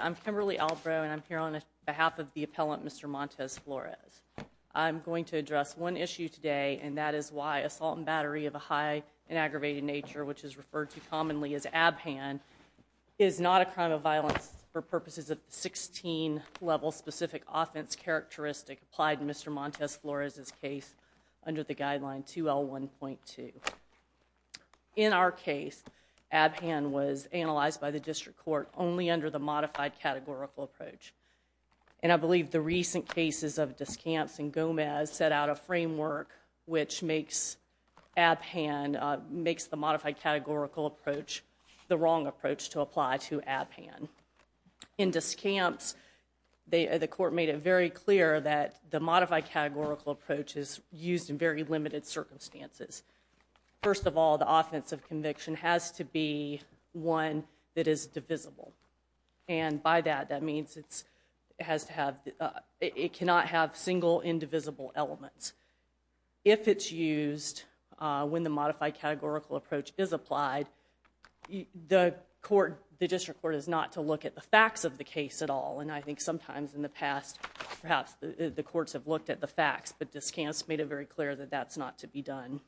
I'm Kimberly Albrow and I'm here on behalf of the appellant, Mr. Montes-Flores. I'm going to address one issue today and that is why assault and battery of a high and aggravated nature which is referred to commonly as ABHAN is not a crime of violence for purposes of 16 level specific offense characteristic applied in Mr. Montes-Flores' case under the guideline 2L1.2. In our case, ABHAN was analyzed by the district court only under the modified categorical approach. And I believe the recent cases of Descamps and Gomez set out a framework which makes ABHAN, makes the modified categorical approach the wrong approach to apply to ABHAN. In Descamps, the court made it very clear that the modified categorical approach is used in very limited circumstances. First of all, the offense of conviction has to be one that is divisible. And by that, that means it has to have, it cannot have single indivisible elements. If it's used when the modified categorical approach is applied, the court, the district court is not to look at the facts of the case at all. And I think sometimes in the past, perhaps the courts have looked at the facts, but Descamps made it very clear that that's not to be done.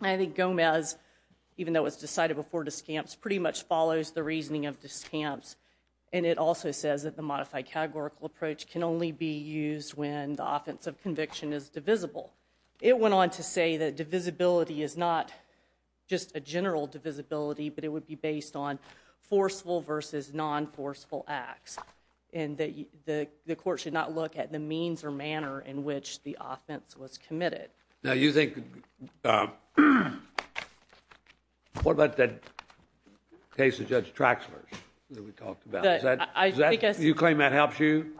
I think Gomez, even though it was decided before Descamps, pretty much follows the reasoning of Descamps. And it also says that the modified categorical approach can only be used when the offense of conviction is divisible. It went on to say that divisibility is not just a general divisibility, but it would be based on forceful versus non-forceful acts. And the court should not look at the means or manner in which the offense was committed. Now you think, what about that case of Judge Traxler's that we talked about? You claim that helps you?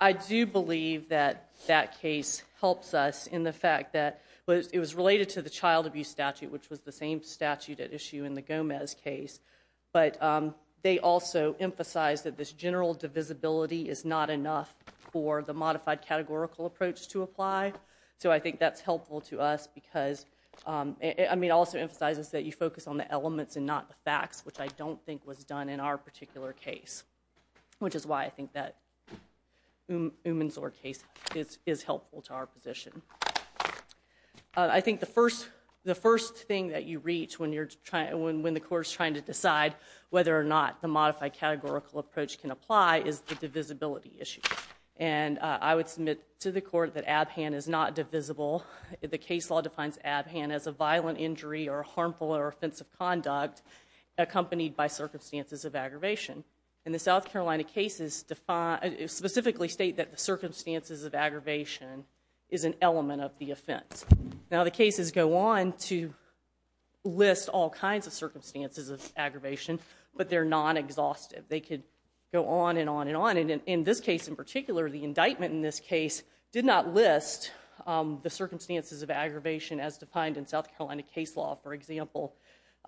I do believe that that case helps us in the fact that it was related to the child abuse statute, which was the same statute at issue in the Gomez case. But they also emphasize that this general divisibility is not enough for the modified categorical approach to apply. So I think that's helpful to us because it also emphasizes that you focus on the elements and not the facts, which I don't think was done in our particular case, which is why I think that Umensor case is helpful to our position. I think the first thing that you reach when the court is trying to decide whether or not the modified categorical approach can apply is the divisibility issue. And I would submit to the court that Abhan is not divisible. The case law defines Abhan as a violent injury or harmful or offensive conduct accompanied by circumstances of aggravation. And the South Carolina cases specifically state that the circumstances of aggravation is an element of the offense. Now the cases go on to list all kinds of circumstances of aggravation, but they're non-exhaustive. They could go on and on and on. In this case in particular, the indictment in this case did not list the circumstances of aggravation as defined in South Carolina case law. For example,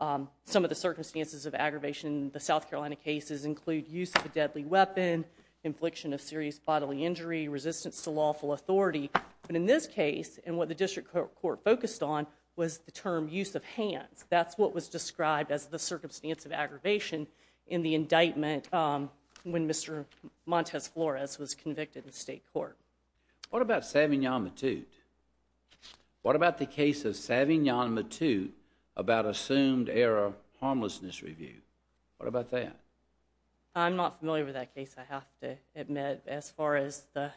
some of the circumstances of aggravation in the South Carolina cases include use of a deadly weapon, infliction of serious bodily injury, resistance to lawful authority. But in this case, and what the district court focused on, was the term use of hands. That's what was described as the circumstance of aggravation in the indictment when Mr. Montes Flores was convicted in state court. What about Savignon Matute? What about the case of Savignon Matute about assumed error harmlessness review? What about that? I'm not familiar with that case, I have to admit. As far as the,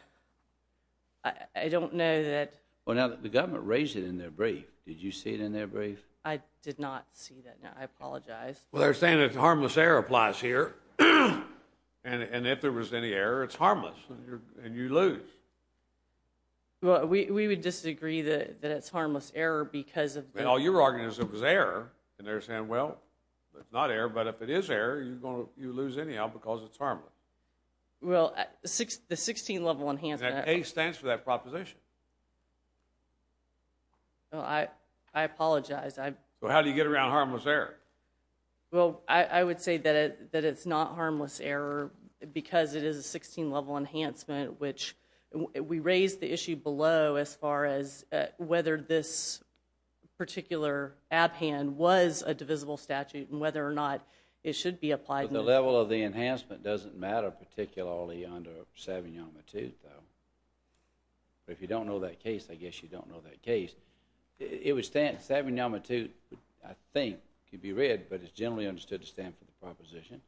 I don't know that. Well now the government raised it in their brief. Did you see it in their brief? I did not see that, I apologize. Well they're saying that harmless error applies here. And if there was any error, it's harmless, and you lose. Well we would disagree that it's harmless error because of the. Well your argument is it was error, and they're saying well, it's not error, but if it is error, you lose anyhow because it's harmless. Well the 16-level enhancement. The A stands for that proposition. I apologize. Well how do you get around harmless error? Well I would say that it's not harmless error because it is a 16-level enhancement, which we raised the issue below as far as whether this particular abhand was a divisible statute and whether or not it should be applied. But the level of the enhancement doesn't matter particularly under Savignon Matute though. If you don't know that case, I guess you don't know that case. It was Savignon Matute, I think, could be read, but it's generally understood to stand for the proposition,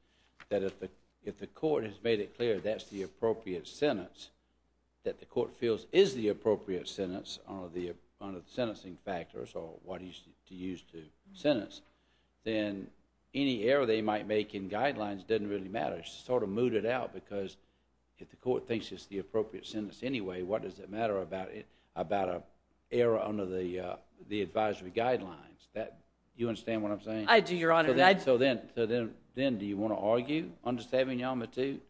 that if the court has made it clear that's the appropriate sentence, that the court feels is the appropriate sentence under the sentencing factors or what is to use to sentence, then any error they might make in guidelines doesn't really matter. It's sort of mooted out because if the court thinks it's the appropriate sentence anyway, what does it matter about an error under the advisory guidelines? You understand what I'm saying? I do, Your Honor. So then do you want to argue under Savignon Matute?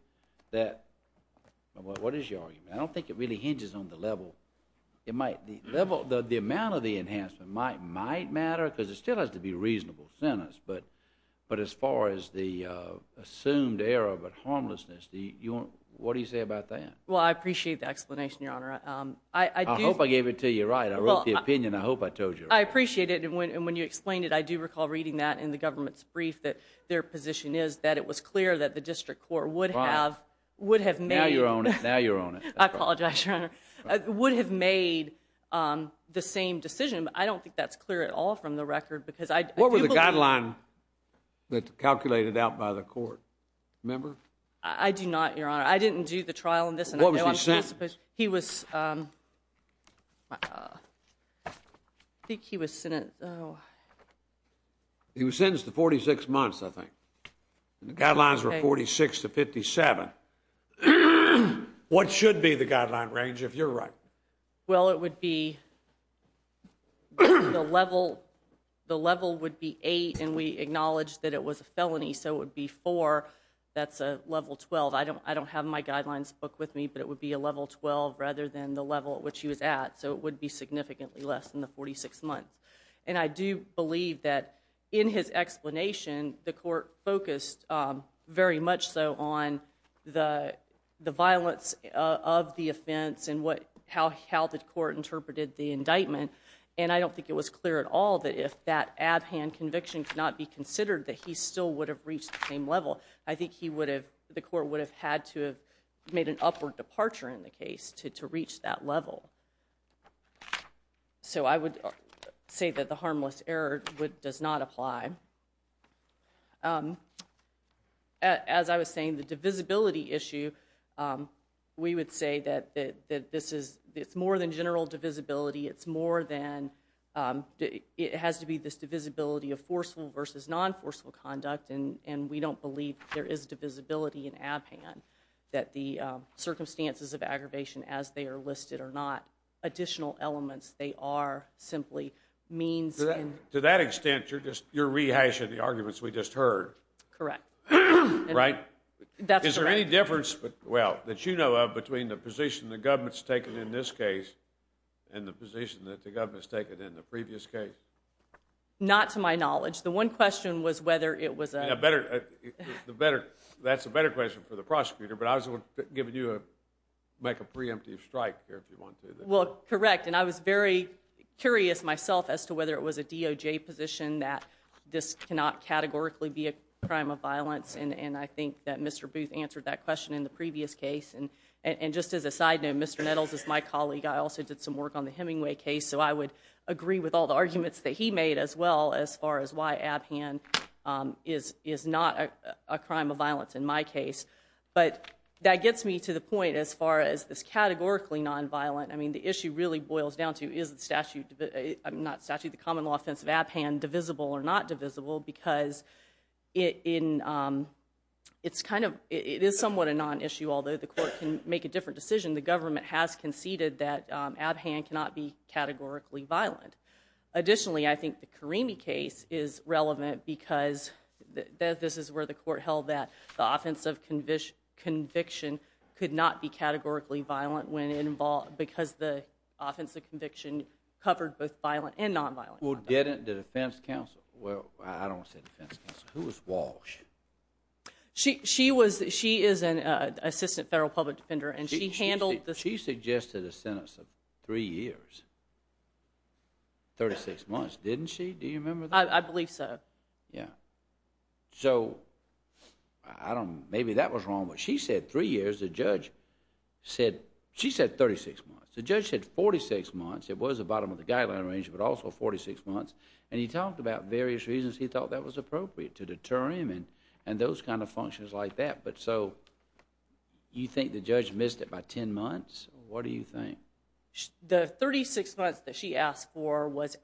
What is your argument? I don't think it really hinges on the level. The amount of the enhancement might matter because it still has to be a reasonable sentence, but as far as the assumed error but harmlessness, what do you say about that? Well, I appreciate the explanation, Your Honor. I hope I gave it to you right. I wrote the opinion. I hope I told you right. I appreciate it, and when you explained it, I do recall reading that in the government's brief that their position is that it was clear that the district court would have made— Now you're on it. Now you're on it. I apologize, Your Honor. Would have made the same decision, but I don't think that's clear at all from the record because I do believe— What was the guideline that's calculated out by the court, remember? I do not, Your Honor. I didn't do the trial in this, and I don't suppose— What was he sentenced? He was—I think he was sentenced— He was sentenced to 46 months, I think, and the guidelines were 46 to 57. What should be the guideline range, if you're right? Well, it would be—the level would be 8, and we acknowledged that it was a felony, so it would be 4. That's a level 12. I don't have my guidelines book with me, but it would be a level 12 rather than the level at which he was at, so it would be significantly less than the 46 months. And I do believe that in his explanation, the court focused very much so on the violence of the offense and how the court interpreted the indictment, and I don't think it was clear at all that if that abhand conviction could not be considered, that he still would have reached the same level. I think he would have—the court would have had to have made an upward departure in the case to reach that level. So I would say that the harmless error does not apply. As I was saying, the divisibility issue, we would say that this is—it's more than general divisibility. It's more than—it has to be this divisibility of forceful versus non-forceful conduct, and we don't believe there is divisibility in abhand, that the circumstances of aggravation as they are listed are not additional elements. They are simply means in— To that extent, you're rehashing the arguments we just heard. Correct. Right? That's correct. Is there any difference, well, that you know of between the position the government's taken in this case and the position that the government's taken in the previous case? Not to my knowledge. The one question was whether it was a— That's a better question for the prosecutor, but I was giving you a—make a preemptive strike here if you want to. Well, correct, and I was very curious myself as to whether it was a DOJ position that this cannot categorically be a crime of violence, and I think that Mr. Booth answered that question in the previous case. And just as a side note, Mr. Nettles is my colleague. I also did some work on the Hemingway case, so I would agree with all the arguments that he made as well as far as why Abhan is not a crime of violence in my case. But that gets me to the point as far as this categorically nonviolent—I mean, the issue really boils down to is the statute—not statute, the common law offense of Abhan divisible or not divisible, because it's kind of—it is somewhat a nonissue, although the court can make a different decision. The government has conceded that Abhan cannot be categorically violent. Additionally, I think the Karimi case is relevant because this is where the court held that the offense of conviction could not be categorically violent because the offense of conviction covered both violent and nonviolent. Well, get into defense counsel. Well, I don't want to say defense counsel. Who was Walsh? She is an assistant federal public defender, and she handled— Well, she suggested a sentence of three years, 36 months, didn't she? Do you remember that? I believe so. Yeah. So, I don't—maybe that was wrong, but she said three years. The judge said—she said 36 months. The judge said 46 months. It was the bottom of the guideline range, but also 46 months, and he talked about various reasons he thought that was appropriate to deter him and those kind of functions like that. But so, you think the judge missed it by 10 months? What do you think? The 36 months that she asked for was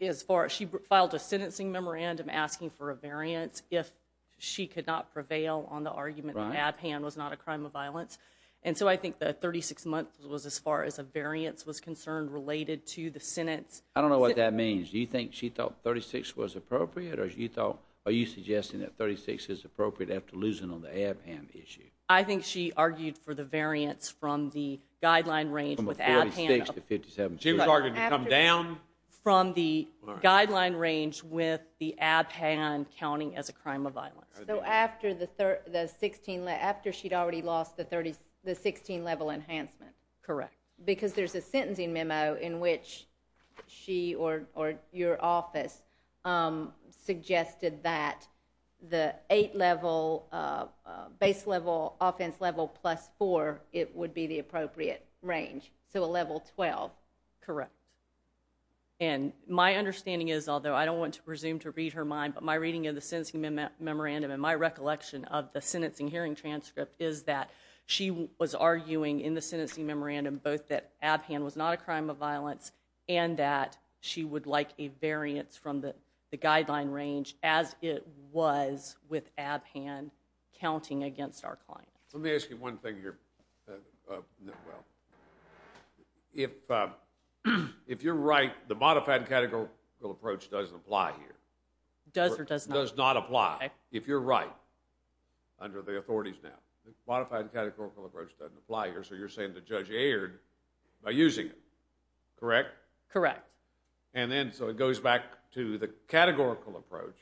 as far—she filed a sentencing memorandum asking for a variance if she could not prevail on the argument that Abhan was not a crime of violence. And so, I think the 36 months was as far as a variance was concerned related to the sentence. I don't know what that means. Do you think she thought 36 was appropriate, or are you suggesting that 36 is appropriate after losing on the Abhan issue? I think she argued for the variance from the guideline range with Abhan— From the 46 to 57. She was arguing to come down? From the guideline range with the Abhan counting as a crime of violence. So, after the 16—after she'd already lost the 16-level enhancement? Correct. Because there's a sentencing memo in which she or your office suggested that the 8-level base level offense level plus 4, it would be the appropriate range, so a level 12. Correct. And my understanding is, although I don't want to presume to read her mind, but my reading of the sentencing memorandum and my recollection of the sentencing hearing transcript is that she was arguing in the sentencing memorandum both that Abhan was not a crime of violence and that she would like a variance from the guideline range as it was with Abhan counting against our client. Let me ask you one thing here, if you're right, the modified categorical approach doesn't apply here. Does or does not? Does not apply. Okay. So, if you're right, under the authorities now, the modified categorical approach doesn't apply here, so you're saying the judge erred by using it, correct? Correct. And then, so it goes back to the categorical approach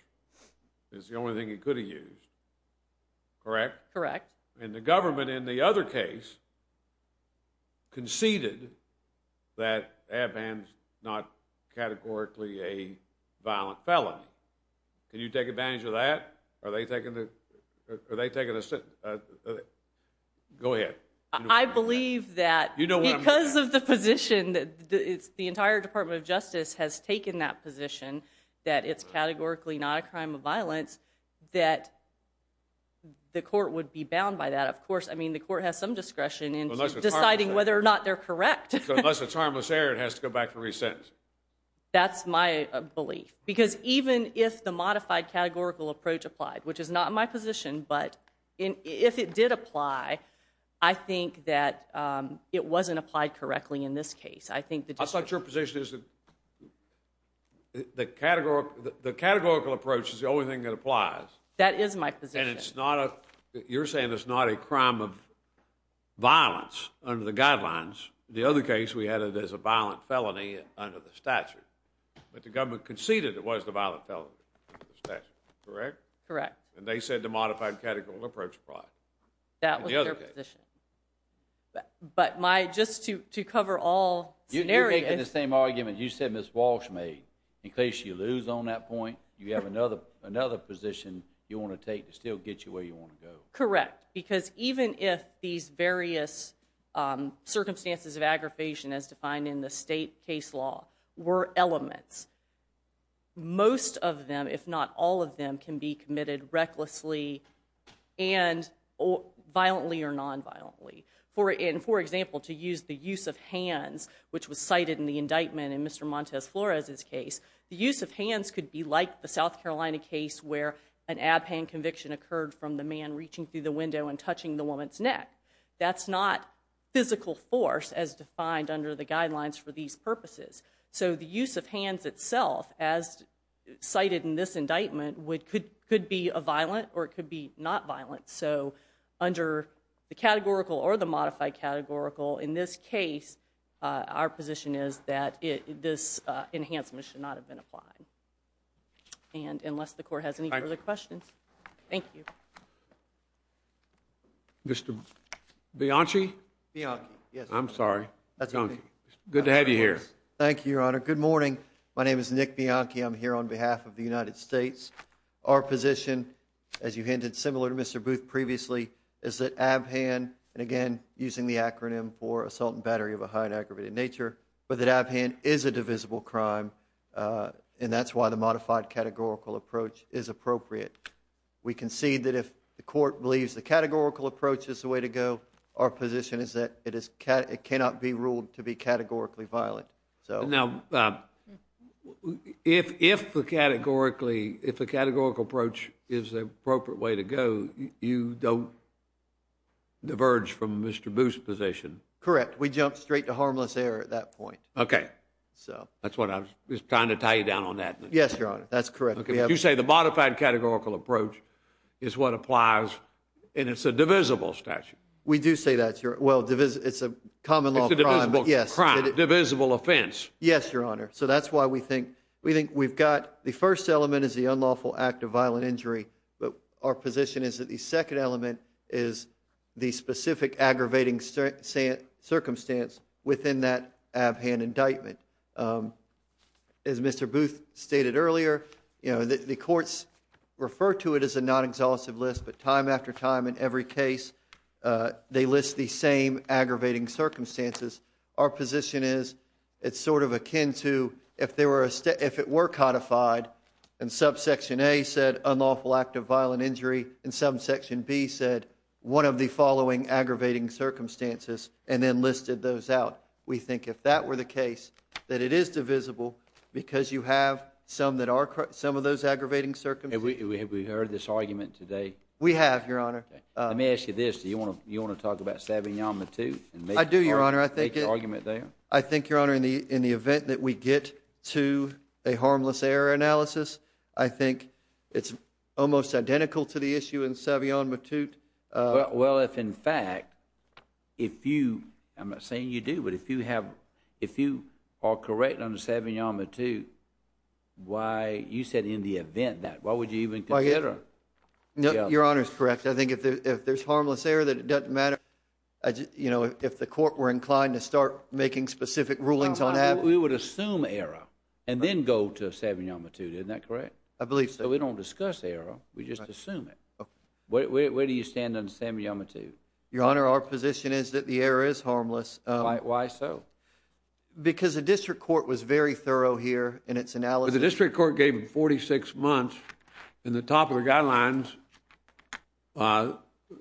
is the only thing he could have used, correct? Correct. And the government in the other case conceded that Abhan's not categorically a violent felony. Can you take advantage of that? Are they taking the, go ahead. I believe that because of the position, the entire Department of Justice has taken that position that it's categorically not a crime of violence that the court would be bound by that. Of course, I mean, the court has some discretion in deciding whether or not they're correct. So, unless it's harmless error, it has to go back to re-sentence. That's my belief. Because even if the modified categorical approach applied, which is not my position, but if it did apply, I think that it wasn't applied correctly in this case. I think the decision- I thought your position is that the categorical approach is the only thing that applies. That is my position. And it's not a, you're saying it's not a crime of violence under the guidelines. The other case, we had it as a violent felony under the statute, but the government conceded it was the violent felony under the statute, correct? Correct. And they said the modified categorical approach applied. That was their position. But my, just to cover all scenarios- You're making the same argument you said Ms. Walsh made. In case you lose on that point, you have another position you want to take to still get you where you want to go. Correct. Because even if these various circumstances of aggravation as defined in the state case law were elements, most of them, if not all of them, can be committed recklessly and violently or non-violently. And for example, to use the use of hands, which was cited in the indictment in Mr. Montez Flores' case, the use of hands could be like the South Carolina case where an ad paying conviction occurred from the man reaching through the window and touching the woman's neck. That's not physical force as defined under the guidelines for these purposes. So the use of hands itself, as cited in this indictment, could be violent or it could be not violent. So under the categorical or the modified categorical, in this case, our position is that this enhancement should not have been applied. And unless the court has any further questions. Thank you. Mr. Bianchi? Bianchi. Yes. I'm sorry. Bianchi. Good to have you here. Thank you, Your Honor. Good morning. My name is Nick Bianchi. I'm here on behalf of the United States. Our position, as you hinted similar to Mr. Booth previously, is that ABHAN, and again, using the acronym for Assault and Battery of a High and Aggravated Nature, but that that's why the modified categorical approach is appropriate. We concede that if the court believes the categorical approach is the way to go, our position is that it cannot be ruled to be categorically violent. Now, if the categorical approach is the appropriate way to go, you don't diverge from Mr. Booth's position. Correct. We jump straight to harmless error at that point. Okay. That's what I was trying to tie you down on that. Yes, Your Honor. That's correct. Okay. You say the modified categorical approach is what applies, and it's a divisible statute. We do say that. Well, it's a common law crime, but yes. It's a divisible crime. Divisible offense. Yes, Your Honor. So that's why we think we've got the first element is the unlawful act of violent injury, but our position is that the second element is the specific aggravating circumstance within that ab-hand indictment. As Mr. Booth stated earlier, the courts refer to it as a non-exhaustive list, but time after time in every case, they list the same aggravating circumstances. Our position is it's sort of akin to if it were codified and subsection A said unlawful act of violent injury and subsection B said one of the following aggravating circumstances and then listed those out. We think if that were the case, that it is divisible because you have some of those aggravating circumstances. Have we heard this argument today? We have, Your Honor. Let me ask you this. Do you want to talk about Savignon Matute and make your argument there? I do, Your Honor. I think, Your Honor, in the event that we get to a harmless error analysis, I think it's almost identical to the issue in Savignon Matute. Well, if in fact, if you, I'm not saying you do, but if you are correct on Savignon Matute, why, you said in the event that, why would you even consider? Your Honor is correct. I think if there's harmless error, that it doesn't matter if the court were inclined to start making specific rulings on that. We would assume error and then go to Savignon Matute, isn't that correct? I believe so. We don't discuss error. We just assume it. Okay. Where do you stand on Savignon Matute? Your Honor, our position is that the error is harmless. Why so? Because the district court was very thorough here in its analysis. The district court gave him 46 months and the top of the guidelines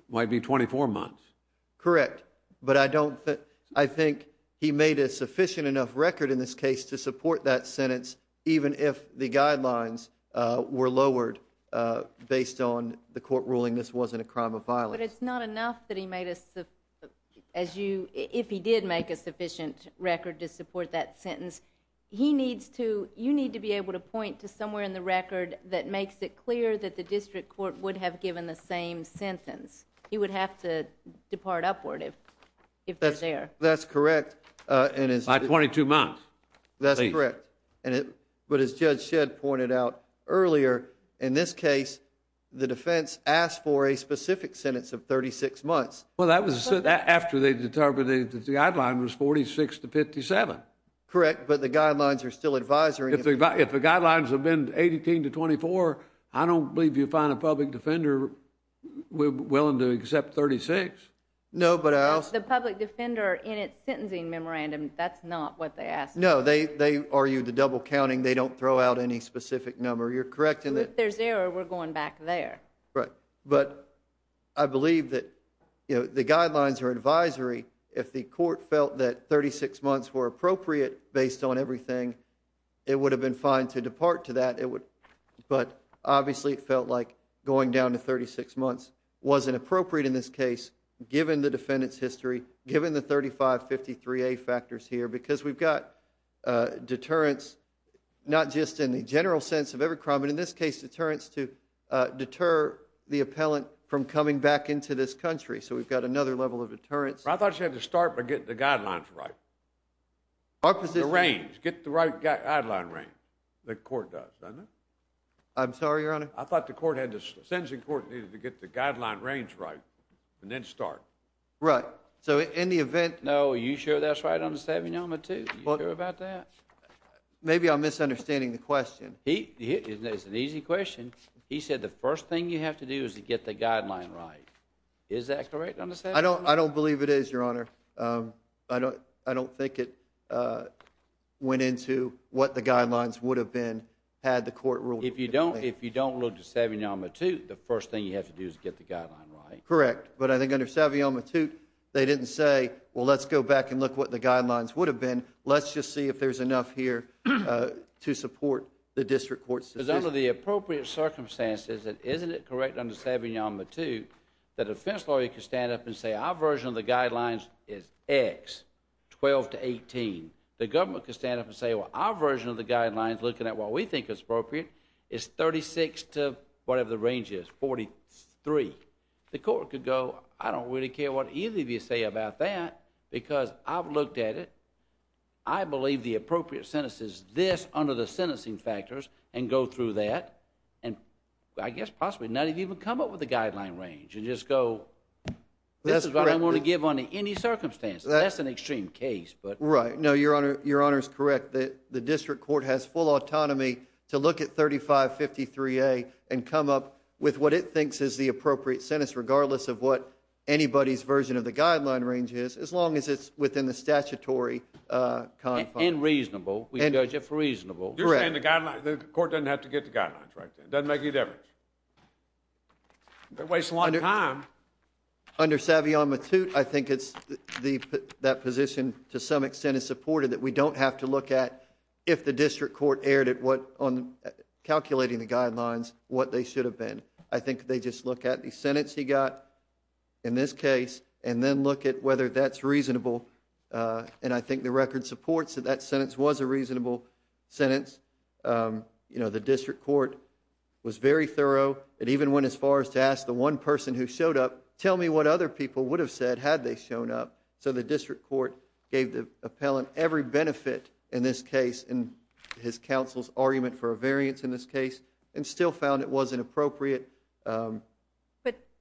might be 24 months. Correct. But I don't think, I think he made a sufficient enough record in this case to support that ruling. This wasn't a crime of violence. But it's not enough that he made a, as you, if he did make a sufficient record to support that sentence, he needs to, you need to be able to point to somewhere in the record that makes it clear that the district court would have given the same sentence. He would have to depart upward if they're there. That's correct. By 22 months. That's correct. Please. As Judge Shedd pointed out earlier, in this case, the defense asked for a specific sentence of 36 months. Well, that was after they determined that the guideline was 46 to 57. Correct. But the guidelines are still advisory. If the guidelines have been 18 to 24, I don't believe you find a public defender willing to accept 36. No, but I also... But the public defender in its sentencing memorandum, that's not what they asked for. No. They argued the double counting. They don't throw out any specific number. You're correct in that... If there's error, we're going back there. Right. But I believe that, you know, the guidelines are advisory. If the court felt that 36 months were appropriate based on everything, it would have been fine to depart to that. But obviously, it felt like going down to 36 months wasn't appropriate in this case given the defendant's history, given the 3553A factors here. Because we've got deterrence, not just in the general sense of every crime, but in this case deterrence to deter the appellant from coming back into this country. So we've got another level of deterrence... I thought you had to start by getting the guidelines right, the range. Get the right guideline range. The court does, doesn't it? I'm sorry, Your Honor? I thought the court had to... the sentencing court needed to get the guideline range right and then start. Right. So in the event... No. Are you sure that's right under Savignon-Matute? Are you sure about that? Maybe I'm misunderstanding the question. It's an easy question. He said the first thing you have to do is to get the guideline right. Is that correct under Savignon-Matute? I don't believe it is, Your Honor. I don't think it went into what the guidelines would have been had the court ruled... If you don't look at Savignon-Matute, the first thing you have to do is get the guideline right. Correct. But I think under Savignon-Matute, they didn't say, well, let's go back and look at what the guidelines would have been. Let's just see if there's enough here to support the district court's decision. Because under the appropriate circumstances, and isn't it correct under Savignon-Matute that a defense lawyer could stand up and say, our version of the guidelines is X, 12-18. The government could stand up and say, well, our version of the guidelines, looking at what we think is appropriate, is 36 to whatever the range is, 43. The court could go, I don't really care what either of you say about that because I've looked at it. I believe the appropriate sentence is this under the sentencing factors and go through that and I guess possibly not even come up with a guideline range and just go... That's correct. This is what I want to give under any circumstances. That's an extreme case, but... Right, no, Your Honor is correct. The district court has full autonomy to look at 3553A and come up with what it thinks is the appropriate sentence, regardless of what anybody's version of the guideline range is, as long as it's within the statutory... Inreasonable, we judge it for reasonable... Correct. You're saying the court doesn't have to get the guidelines, right? It doesn't make any difference. They're wasting a lot of time. Under Savignon-Matute, I think that position, to some extent, is supported that we don't have to look at, if the district court erred on calculating the guidelines, what they should have been. I think they just look at the sentence he got in this case and then look at whether that's reasonable and I think the record supports that that sentence was a reasonable sentence. You know, the district court was very thorough and even went as far as to ask the one person who showed up, tell me what other people would have said had they shown up. So the district court gave the appellant every benefit in this case in his counsel's argument for a variance in this case and still found it wasn't appropriate. But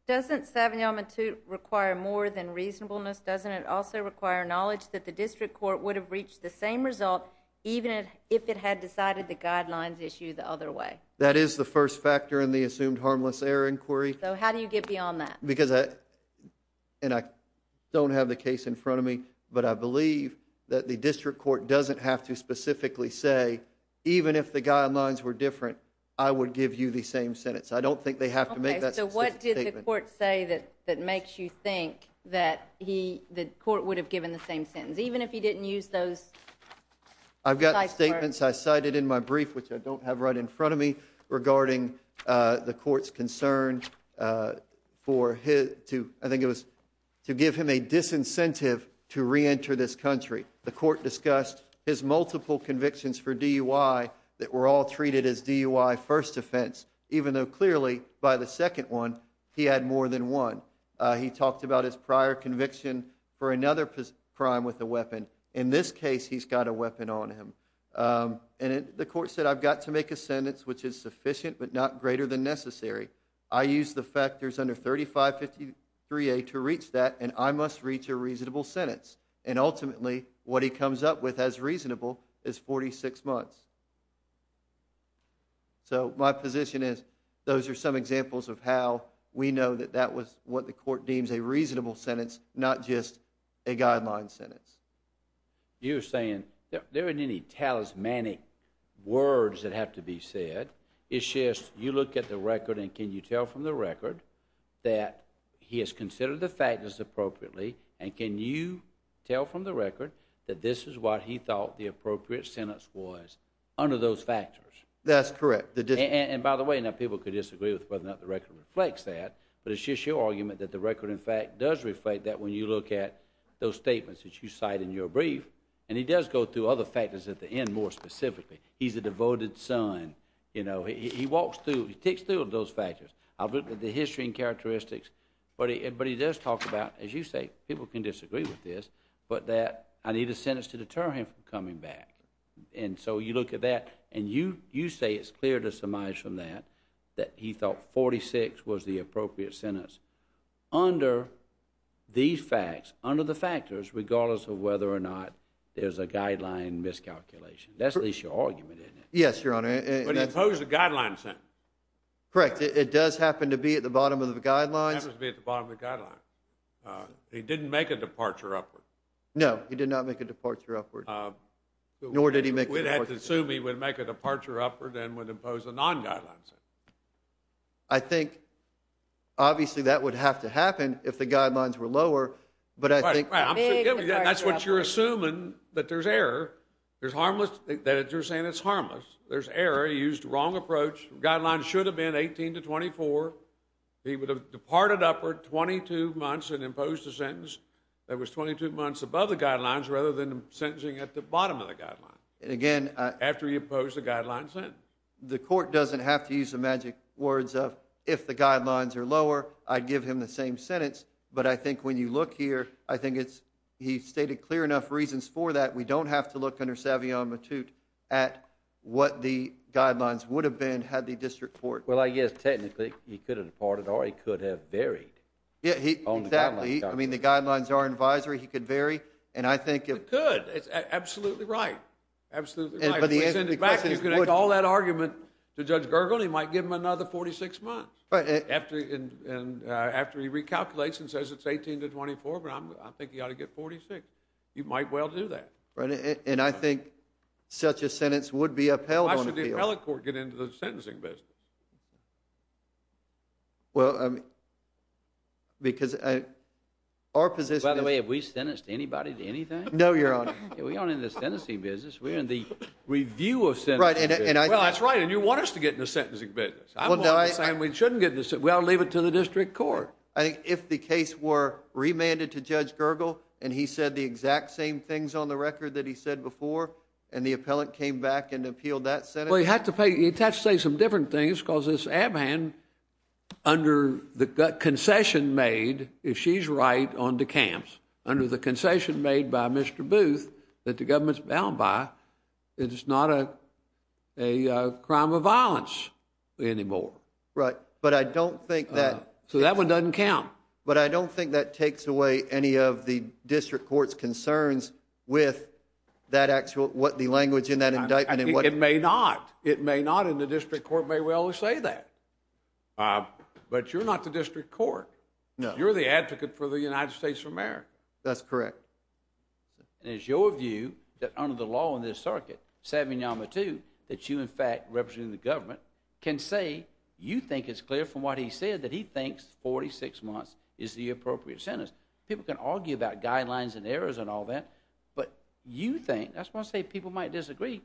doesn't Savignon-Matute require more than reasonableness? Doesn't it also require knowledge that the district court would have reached the same result even if it had decided the guidelines issue the other way? That is the first factor in the assumed harmless error inquiry. So how do you get beyond that? I don't have the case in front of me, but I believe that the district court doesn't have to specifically say, even if the guidelines were different, I would give you the same sentence. I don't think they have to make that statement. Okay, so what did the court say that makes you think that the court would have given the same sentence, even if he didn't use those types of words? I've got statements I cited in my brief, which I don't have right in front of me, regarding the court's concern for, I think it was to give him a disincentive to reenter this country. The court discussed his multiple convictions for DUI that were all treated as DUI first offense, even though clearly, by the second one, he had more than one. He talked about his prior conviction for another crime with a weapon. In this case, he's got a weapon on him. The court said, I've got to make a sentence which is sufficient but not greater than necessary. I use the factors under 3553A to reach that, and I must reach a reasonable sentence. Ultimately, what he comes up with as reasonable is 46 months. My position is, those are some examples of how we know that that was what the court deems a reasonable sentence, not just a guideline sentence. You're saying, there aren't any talismanic words that have to be said, it's just you look at the record and can you tell from the record that he has considered the factors appropriately and can you tell from the record that this is what he thought the appropriate sentence was under those factors? That's correct. And by the way, people could disagree with whether or not the record reflects that, but it's just your argument that the record in fact does reflect that when you look at those statements that you cite in your brief, and he does go through other factors at the end more specifically. He's a devoted son, he walks through, he takes through those factors. I'll look at the history and characteristics, but he does talk about, as you say, people can disagree with this, but that I need a sentence to deter him from coming back. And so you look at that and you say it's clear to surmise from that that he thought 46 was the appropriate sentence under these facts, under the factors, regardless of whether or not there's a guideline miscalculation. That's at least your argument, isn't it? Yes, Your Honor. But he imposed a guideline sentence. Correct. It does happen to be at the bottom of the guidelines. It happens to be at the bottom of the guidelines. He didn't make a departure upward. No, he did not make a departure upward. Nor did he make a departure upward. We'd have to assume he would make a departure upward and would impose a non-guideline sentence. I think obviously that would have to happen if the guidelines were lower, but I think Right, right. I'm sorry. That's what you're assuming, that there's error, that you're saying it's harmless. There's error. He used the wrong approach. Guidelines should have been 18 to 24. He would have departed upward 22 months and imposed a sentence that was 22 months above the guidelines rather than sentencing at the bottom of the guidelines. And again, After he imposed the guideline sentence. The court doesn't have to use the magic words of, if the guidelines are lower, I'd give him the same sentence, but I think when you look here, I think it's, he's stated clear enough reasons for that. We don't have to look under Savion Matute at what the guidelines would have been had the district court. Well, I guess technically he could have departed or he could have varied. Yeah, exactly. I mean, the guidelines are advisory. He could vary. And I think He could. It's absolutely right. Absolutely right. But the answer to the question is You can make all that argument to Judge Gergel and he might give him another 46 months after he recalculates and says it's 18 to 24, but I think he ought to get 46. You might well do that. Right. And I think such a sentence would be upheld on appeal. Why should the appellate court get into the sentencing business? Well, I mean, because our position By the way, have we sentenced anybody to anything? No, Your Honor. We aren't in the sentencing business. We're in the review of sentencing business. Right. And I Well, that's right. And you want us to get in the sentencing business. I'm willing to say we shouldn't get in the sentencing business. We ought to leave it to the district court. I think if the case were remanded to Judge Gergel and he said the exact same things on the record that he said before and the appellant came back and appealed that sentence. Well, you have to pay. You have to say some different things because this Abhan under the concession made, if she's right on the camps, under the concession made by Mr. Booth that the government's bound by, it's not a crime of violence anymore. Right. But I don't think that Yeah. So that one doesn't count. But I don't think that takes away any of the district court's concerns with that actual what the language in that indictment and what It may not. It may not. And the district court may well say that. But you're not the district court. No. You're the advocate for the United States of America. That's correct. And it's your view that under the law in this circuit, Sabin Yamahtou, that you in fact can say you think it's clear from what he said that he thinks 46 months is the appropriate sentence. People can argue about guidelines and errors and all that. But you think, that's why I say people might disagree,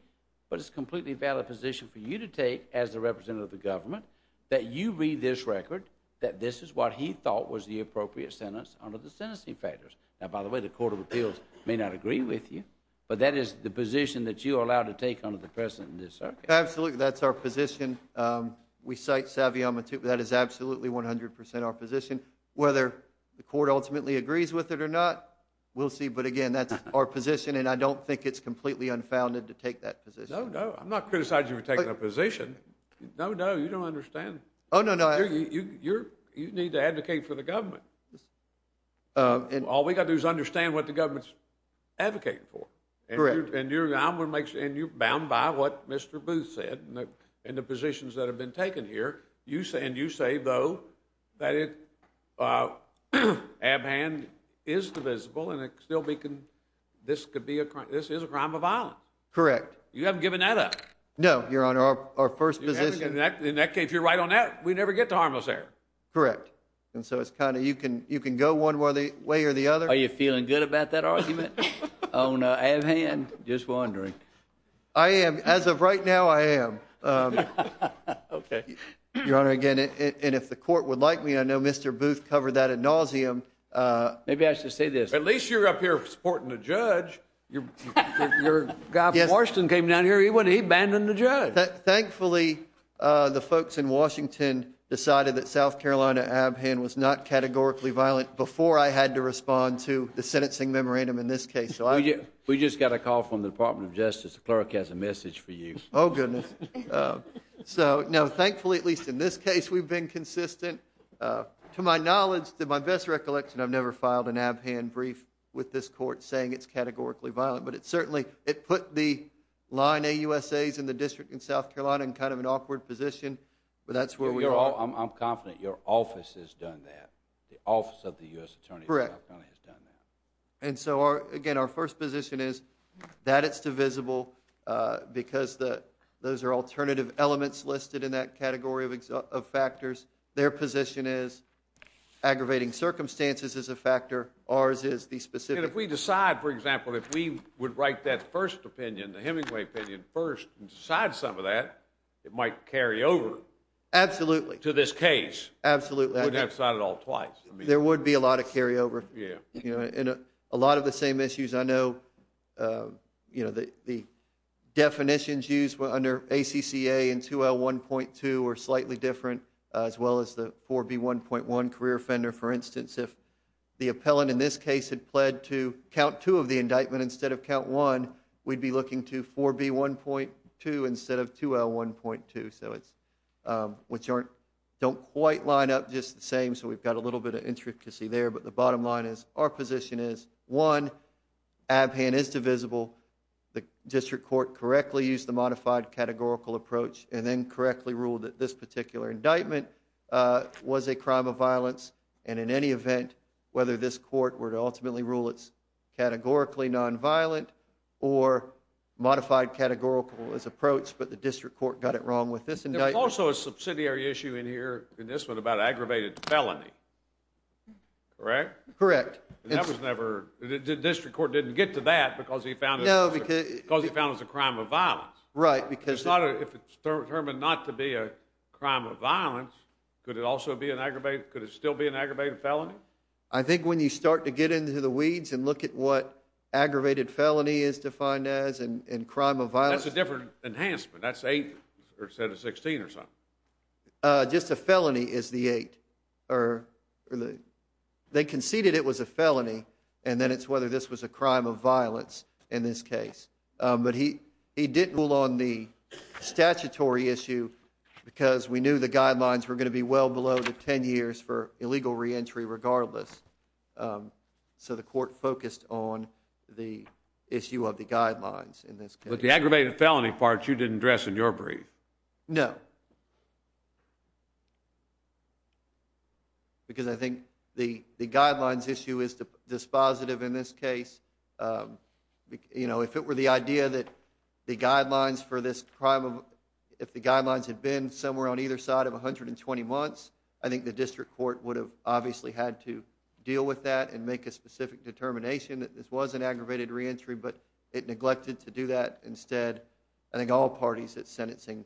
but it's a completely valid position for you to take as the representative of the government that you read this record that this is what he thought was the appropriate sentence under the sentencing factors. Now, by the way, the Court of Appeals may not agree with you, but that is the position that you are allowed to take under the precedent in this circuit. Absolutely. That's our position. We cite Sabin Yamahtou. That is absolutely 100% our position. Whether the court ultimately agrees with it or not, we'll see. But again, that's our position, and I don't think it's completely unfounded to take that position. No, no. I'm not criticizing you for taking that position. No, no. You don't understand. Oh, no, no. You need to advocate for the government. All we got to do is understand what the government's advocating for. Correct. And you're bound by what Mr. Booth said in the positions that have been taken here, and you say, though, that Abhand is divisible and this is a crime of violence. Correct. You haven't given that up. No. You're on our first position. In that case, if you're right on that, we never get to harmless error. Correct. And so it's kind of, you can go one way or the other. Are you feeling good about that argument on Abhand? Just wondering. I am. As of right now, I am. Okay. Your Honor, again, and if the court would like me, I know Mr. Booth covered that ad nauseum. Maybe I should say this. At least you're up here supporting the judge. Your guy from Washington came down here, he abandoned the judge. Thankfully, the folks in Washington decided that South Carolina Abhand was not categorically violent before I had to respond to the sentencing memorandum in this case. We just got a call from the Department of Justice, the clerk has a message for you. Oh, goodness. So, no. Thankfully, at least in this case, we've been consistent. To my knowledge, to my best recollection, I've never filed an Abhand brief with this court saying it's categorically violent, but it certainly, it put the line AUSAs in the district in South Carolina in kind of an awkward position, but that's where we are. I'm confident your office has done that. The office of the U.S. Attorney in South Carolina has done that. And so, again, our first position is that it's divisible because those are alternative elements listed in that category of factors. Their position is aggravating circumstances is a factor. Ours is the specific. And if we decide, for example, if we would write that first opinion, the Hemingway opinion first and decide some of that, it might carry over to this case. Absolutely. You wouldn't have to sign it all twice. There would be a lot of carryover. A lot of the same issues, I know the definitions used under ACCA and 2L1.2 are slightly different as well as the 4B1.1 career offender. For instance, if the appellant in this case had pled to count two of the indictment instead of count one, we'd be looking to 4B1.2 instead of 2L1.2, which don't quite line up just the same, so we've got a little bit of intricacy there, but the bottom line is our position is one, Abhan is divisible. The district court correctly used the modified categorical approach and then correctly ruled that this particular indictment was a crime of violence. And in any event, whether this court were to ultimately rule it's categorically nonviolent or modified categorical as approached, but the district court got it wrong with this indictment. There's also a subsidiary issue in here, in this one, about aggravated felony. Correct? Correct. And that was never, the district court didn't get to that because he found it was a crime of violence. Right, because If it's determined not to be a crime of violence, could it also be an aggravated, could it still be an aggravated felony? I think when you start to get into the weeds and look at what aggravated felony is defined as and crime of violence That's a different enhancement, that's 8 instead of 16 or something. Just a felony is the 8. They conceded it was a felony and then it's whether this was a crime of violence in this case. But he didn't rule on the statutory issue because we knew the guidelines were going to be well below the 10 years for illegal reentry regardless. So the court focused on the issue of the guidelines in this case. But the aggravated felony part you didn't address in your brief. No. Because I think the guidelines issue is dispositive in this case. You know, if it were the idea that the guidelines for this crime of, if the guidelines had been somewhere on either side of 120 months, I think the district court would have obviously had to deal with that and make a specific determination that this was an aggravated reentry. But it neglected to do that. Instead, I think all parties at sentencing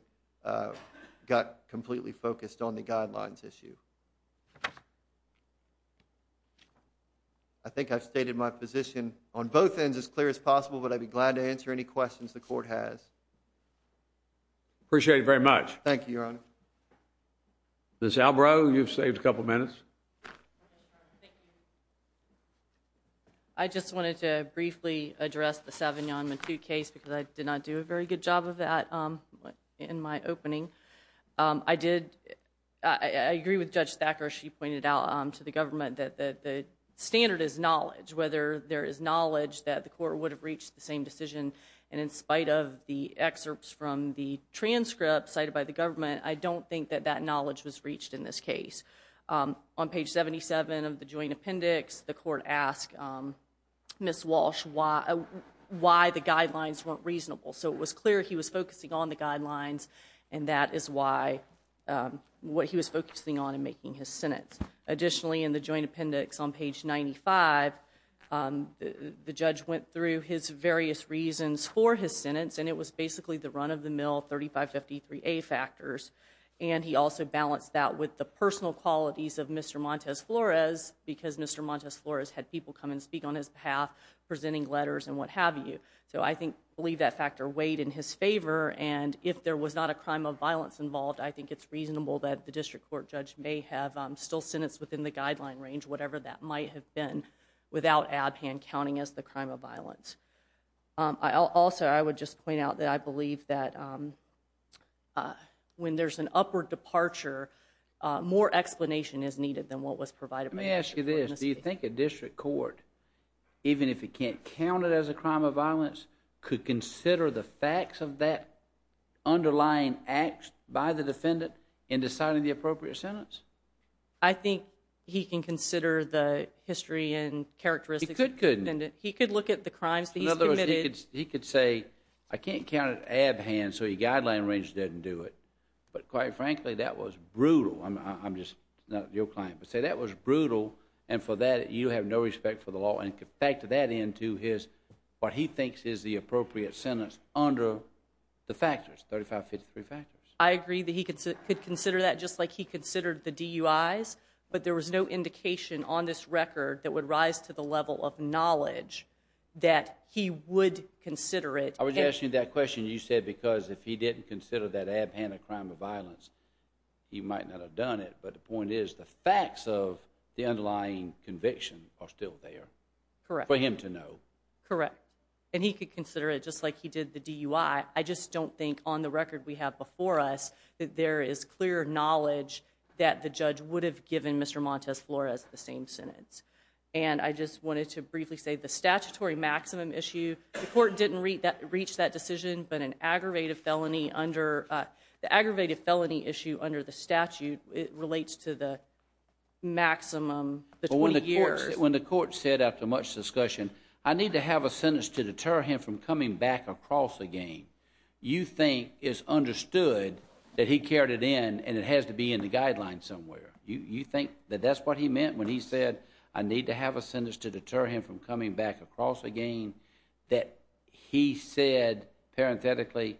got completely focused on the guidelines issue. I think I've stated my position on both ends as clear as possible, but I'd be glad to answer any questions the court has. Appreciate it very much. Thank you, Your Honor. Ms. Albrow, you've saved a couple minutes. Thank you. I just wanted to briefly address the Savignon Matute case because I did not do a very good job of that in my opening. I did, I agree with Judge Thacker. She pointed out to the government that the standard is knowledge, whether there is knowledge that the court would have reached the same decision and in spite of the excerpts from the transcript cited by the government, I don't think that that knowledge was reached in this case. On page 77 of the joint appendix, the court asked Ms. Walsh why the guidelines weren't reasonable. So it was clear he was focusing on the guidelines and that is what he was focusing on in making his sentence. Additionally, in the joint appendix on page 95, the judge went through his various reasons for his sentence and it was basically the run-of-the-mill 3553A factors and he also balanced that with the personal qualities of Mr. Montes-Flores because Mr. Montes-Flores had people come and speak on his behalf, presenting letters and what have you. So I believe that factor weighed in his favor and if there was not a crime of violence involved, I think it's reasonable that the district court judge may have still sentenced within the guideline range, whatever that might have been, without ADPAN counting as the crime of violence. Also, I would just point out that I believe that when there's an upward departure, more explanation is needed than what was provided by the district court. Let me ask you this, do you think a district court, even if it can't count it as a crime of violence, could consider the facts of that underlying act by the defendant in deciding the appropriate sentence? I think he can consider the history and characteristics... He could, couldn't he? He could look at the crimes that he's committed... In other words, he could say, I can't count it at ADPAN, so your guideline range doesn't do it. But quite frankly, that was brutal, I'm just, not your client, but say that was brutal and for that you have no respect for the law and factor that into his, what he thinks is the appropriate sentence under the factors, 3553 factors. I agree that he could consider that just like he considered the DUIs, but there was no indication on this record that would rise to the level of knowledge that he would consider it... I was asking you that question, you said because if he didn't consider that ADPAN a crime of violence, he might not have done it, but the point is the facts of the underlying conviction are still there. Correct. For him to know. Correct. And he could consider it just like he did the DUI, I just don't think on the record we have before us that there is clear knowledge that the judge would have given Mr. Montes Flores the same sentence. And I just wanted to briefly say the statutory maximum issue, the court didn't reach that decision but an aggravated felony under, the aggravated felony issue under the statute relates to the maximum, the 20 years. When the court said after much discussion, I need to have a sentence to deter him from coming back across again, you think it's understood that he carried it in and it has to be in the guideline somewhere. You think that that's what he meant when he said I need to have a sentence to deter him from coming back across again, that he said parenthetically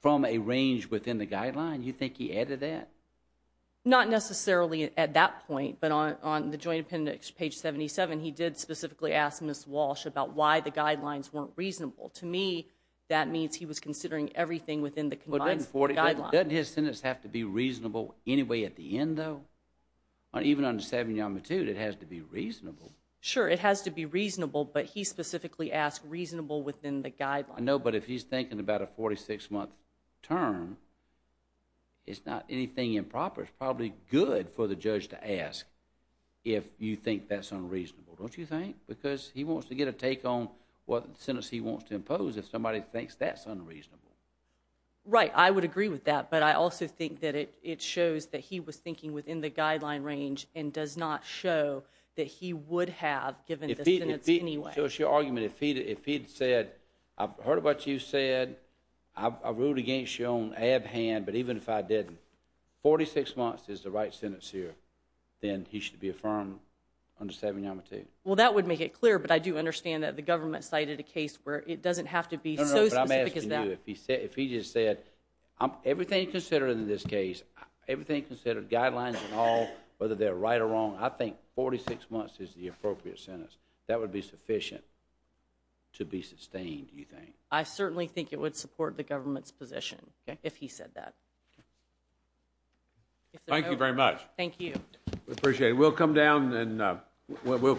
from a range within the guideline, you think he added that? Not necessarily at that point, but on the joint appendix, page 77, he did specifically ask Ms. Walsh about why the guidelines weren't reasonable. To me, that means he was considering everything within the guidelines. Doesn't his sentence have to be reasonable anyway at the end though? Even under 7 Yamatude, it has to be reasonable. Sure, it has to be reasonable, but he specifically asked reasonable within the guideline. I know, but if he's thinking about a 46 month term, it's not anything improper, it's probably good for the judge to ask if you think that's unreasonable. Don't you think? Because he wants to get a take on what sentence he wants to impose if somebody thinks that's unreasonable. Right, I would agree with that, but I also think that it shows that he was thinking within the guideline range and does not show that he would have given the sentence anyway. If he had said, I've heard what you said, I ruled against you on ab hand, but even if I didn't, 46 months is the right sentence here, then he should be affirmed under 7 Yamatude. Well that would make it clear, but I do understand that the government cited a case where it doesn't have to be so specific as that. If he just said, everything he considered in this case, everything he considered, guidelines and all, whether they're right or wrong, I think 46 months is the appropriate sentence. That would be sufficient to be sustained, do you think? I certainly think it would support the government's position, if he said that. Thank you very much. Thank you. We appreciate it. We'll come down and we'll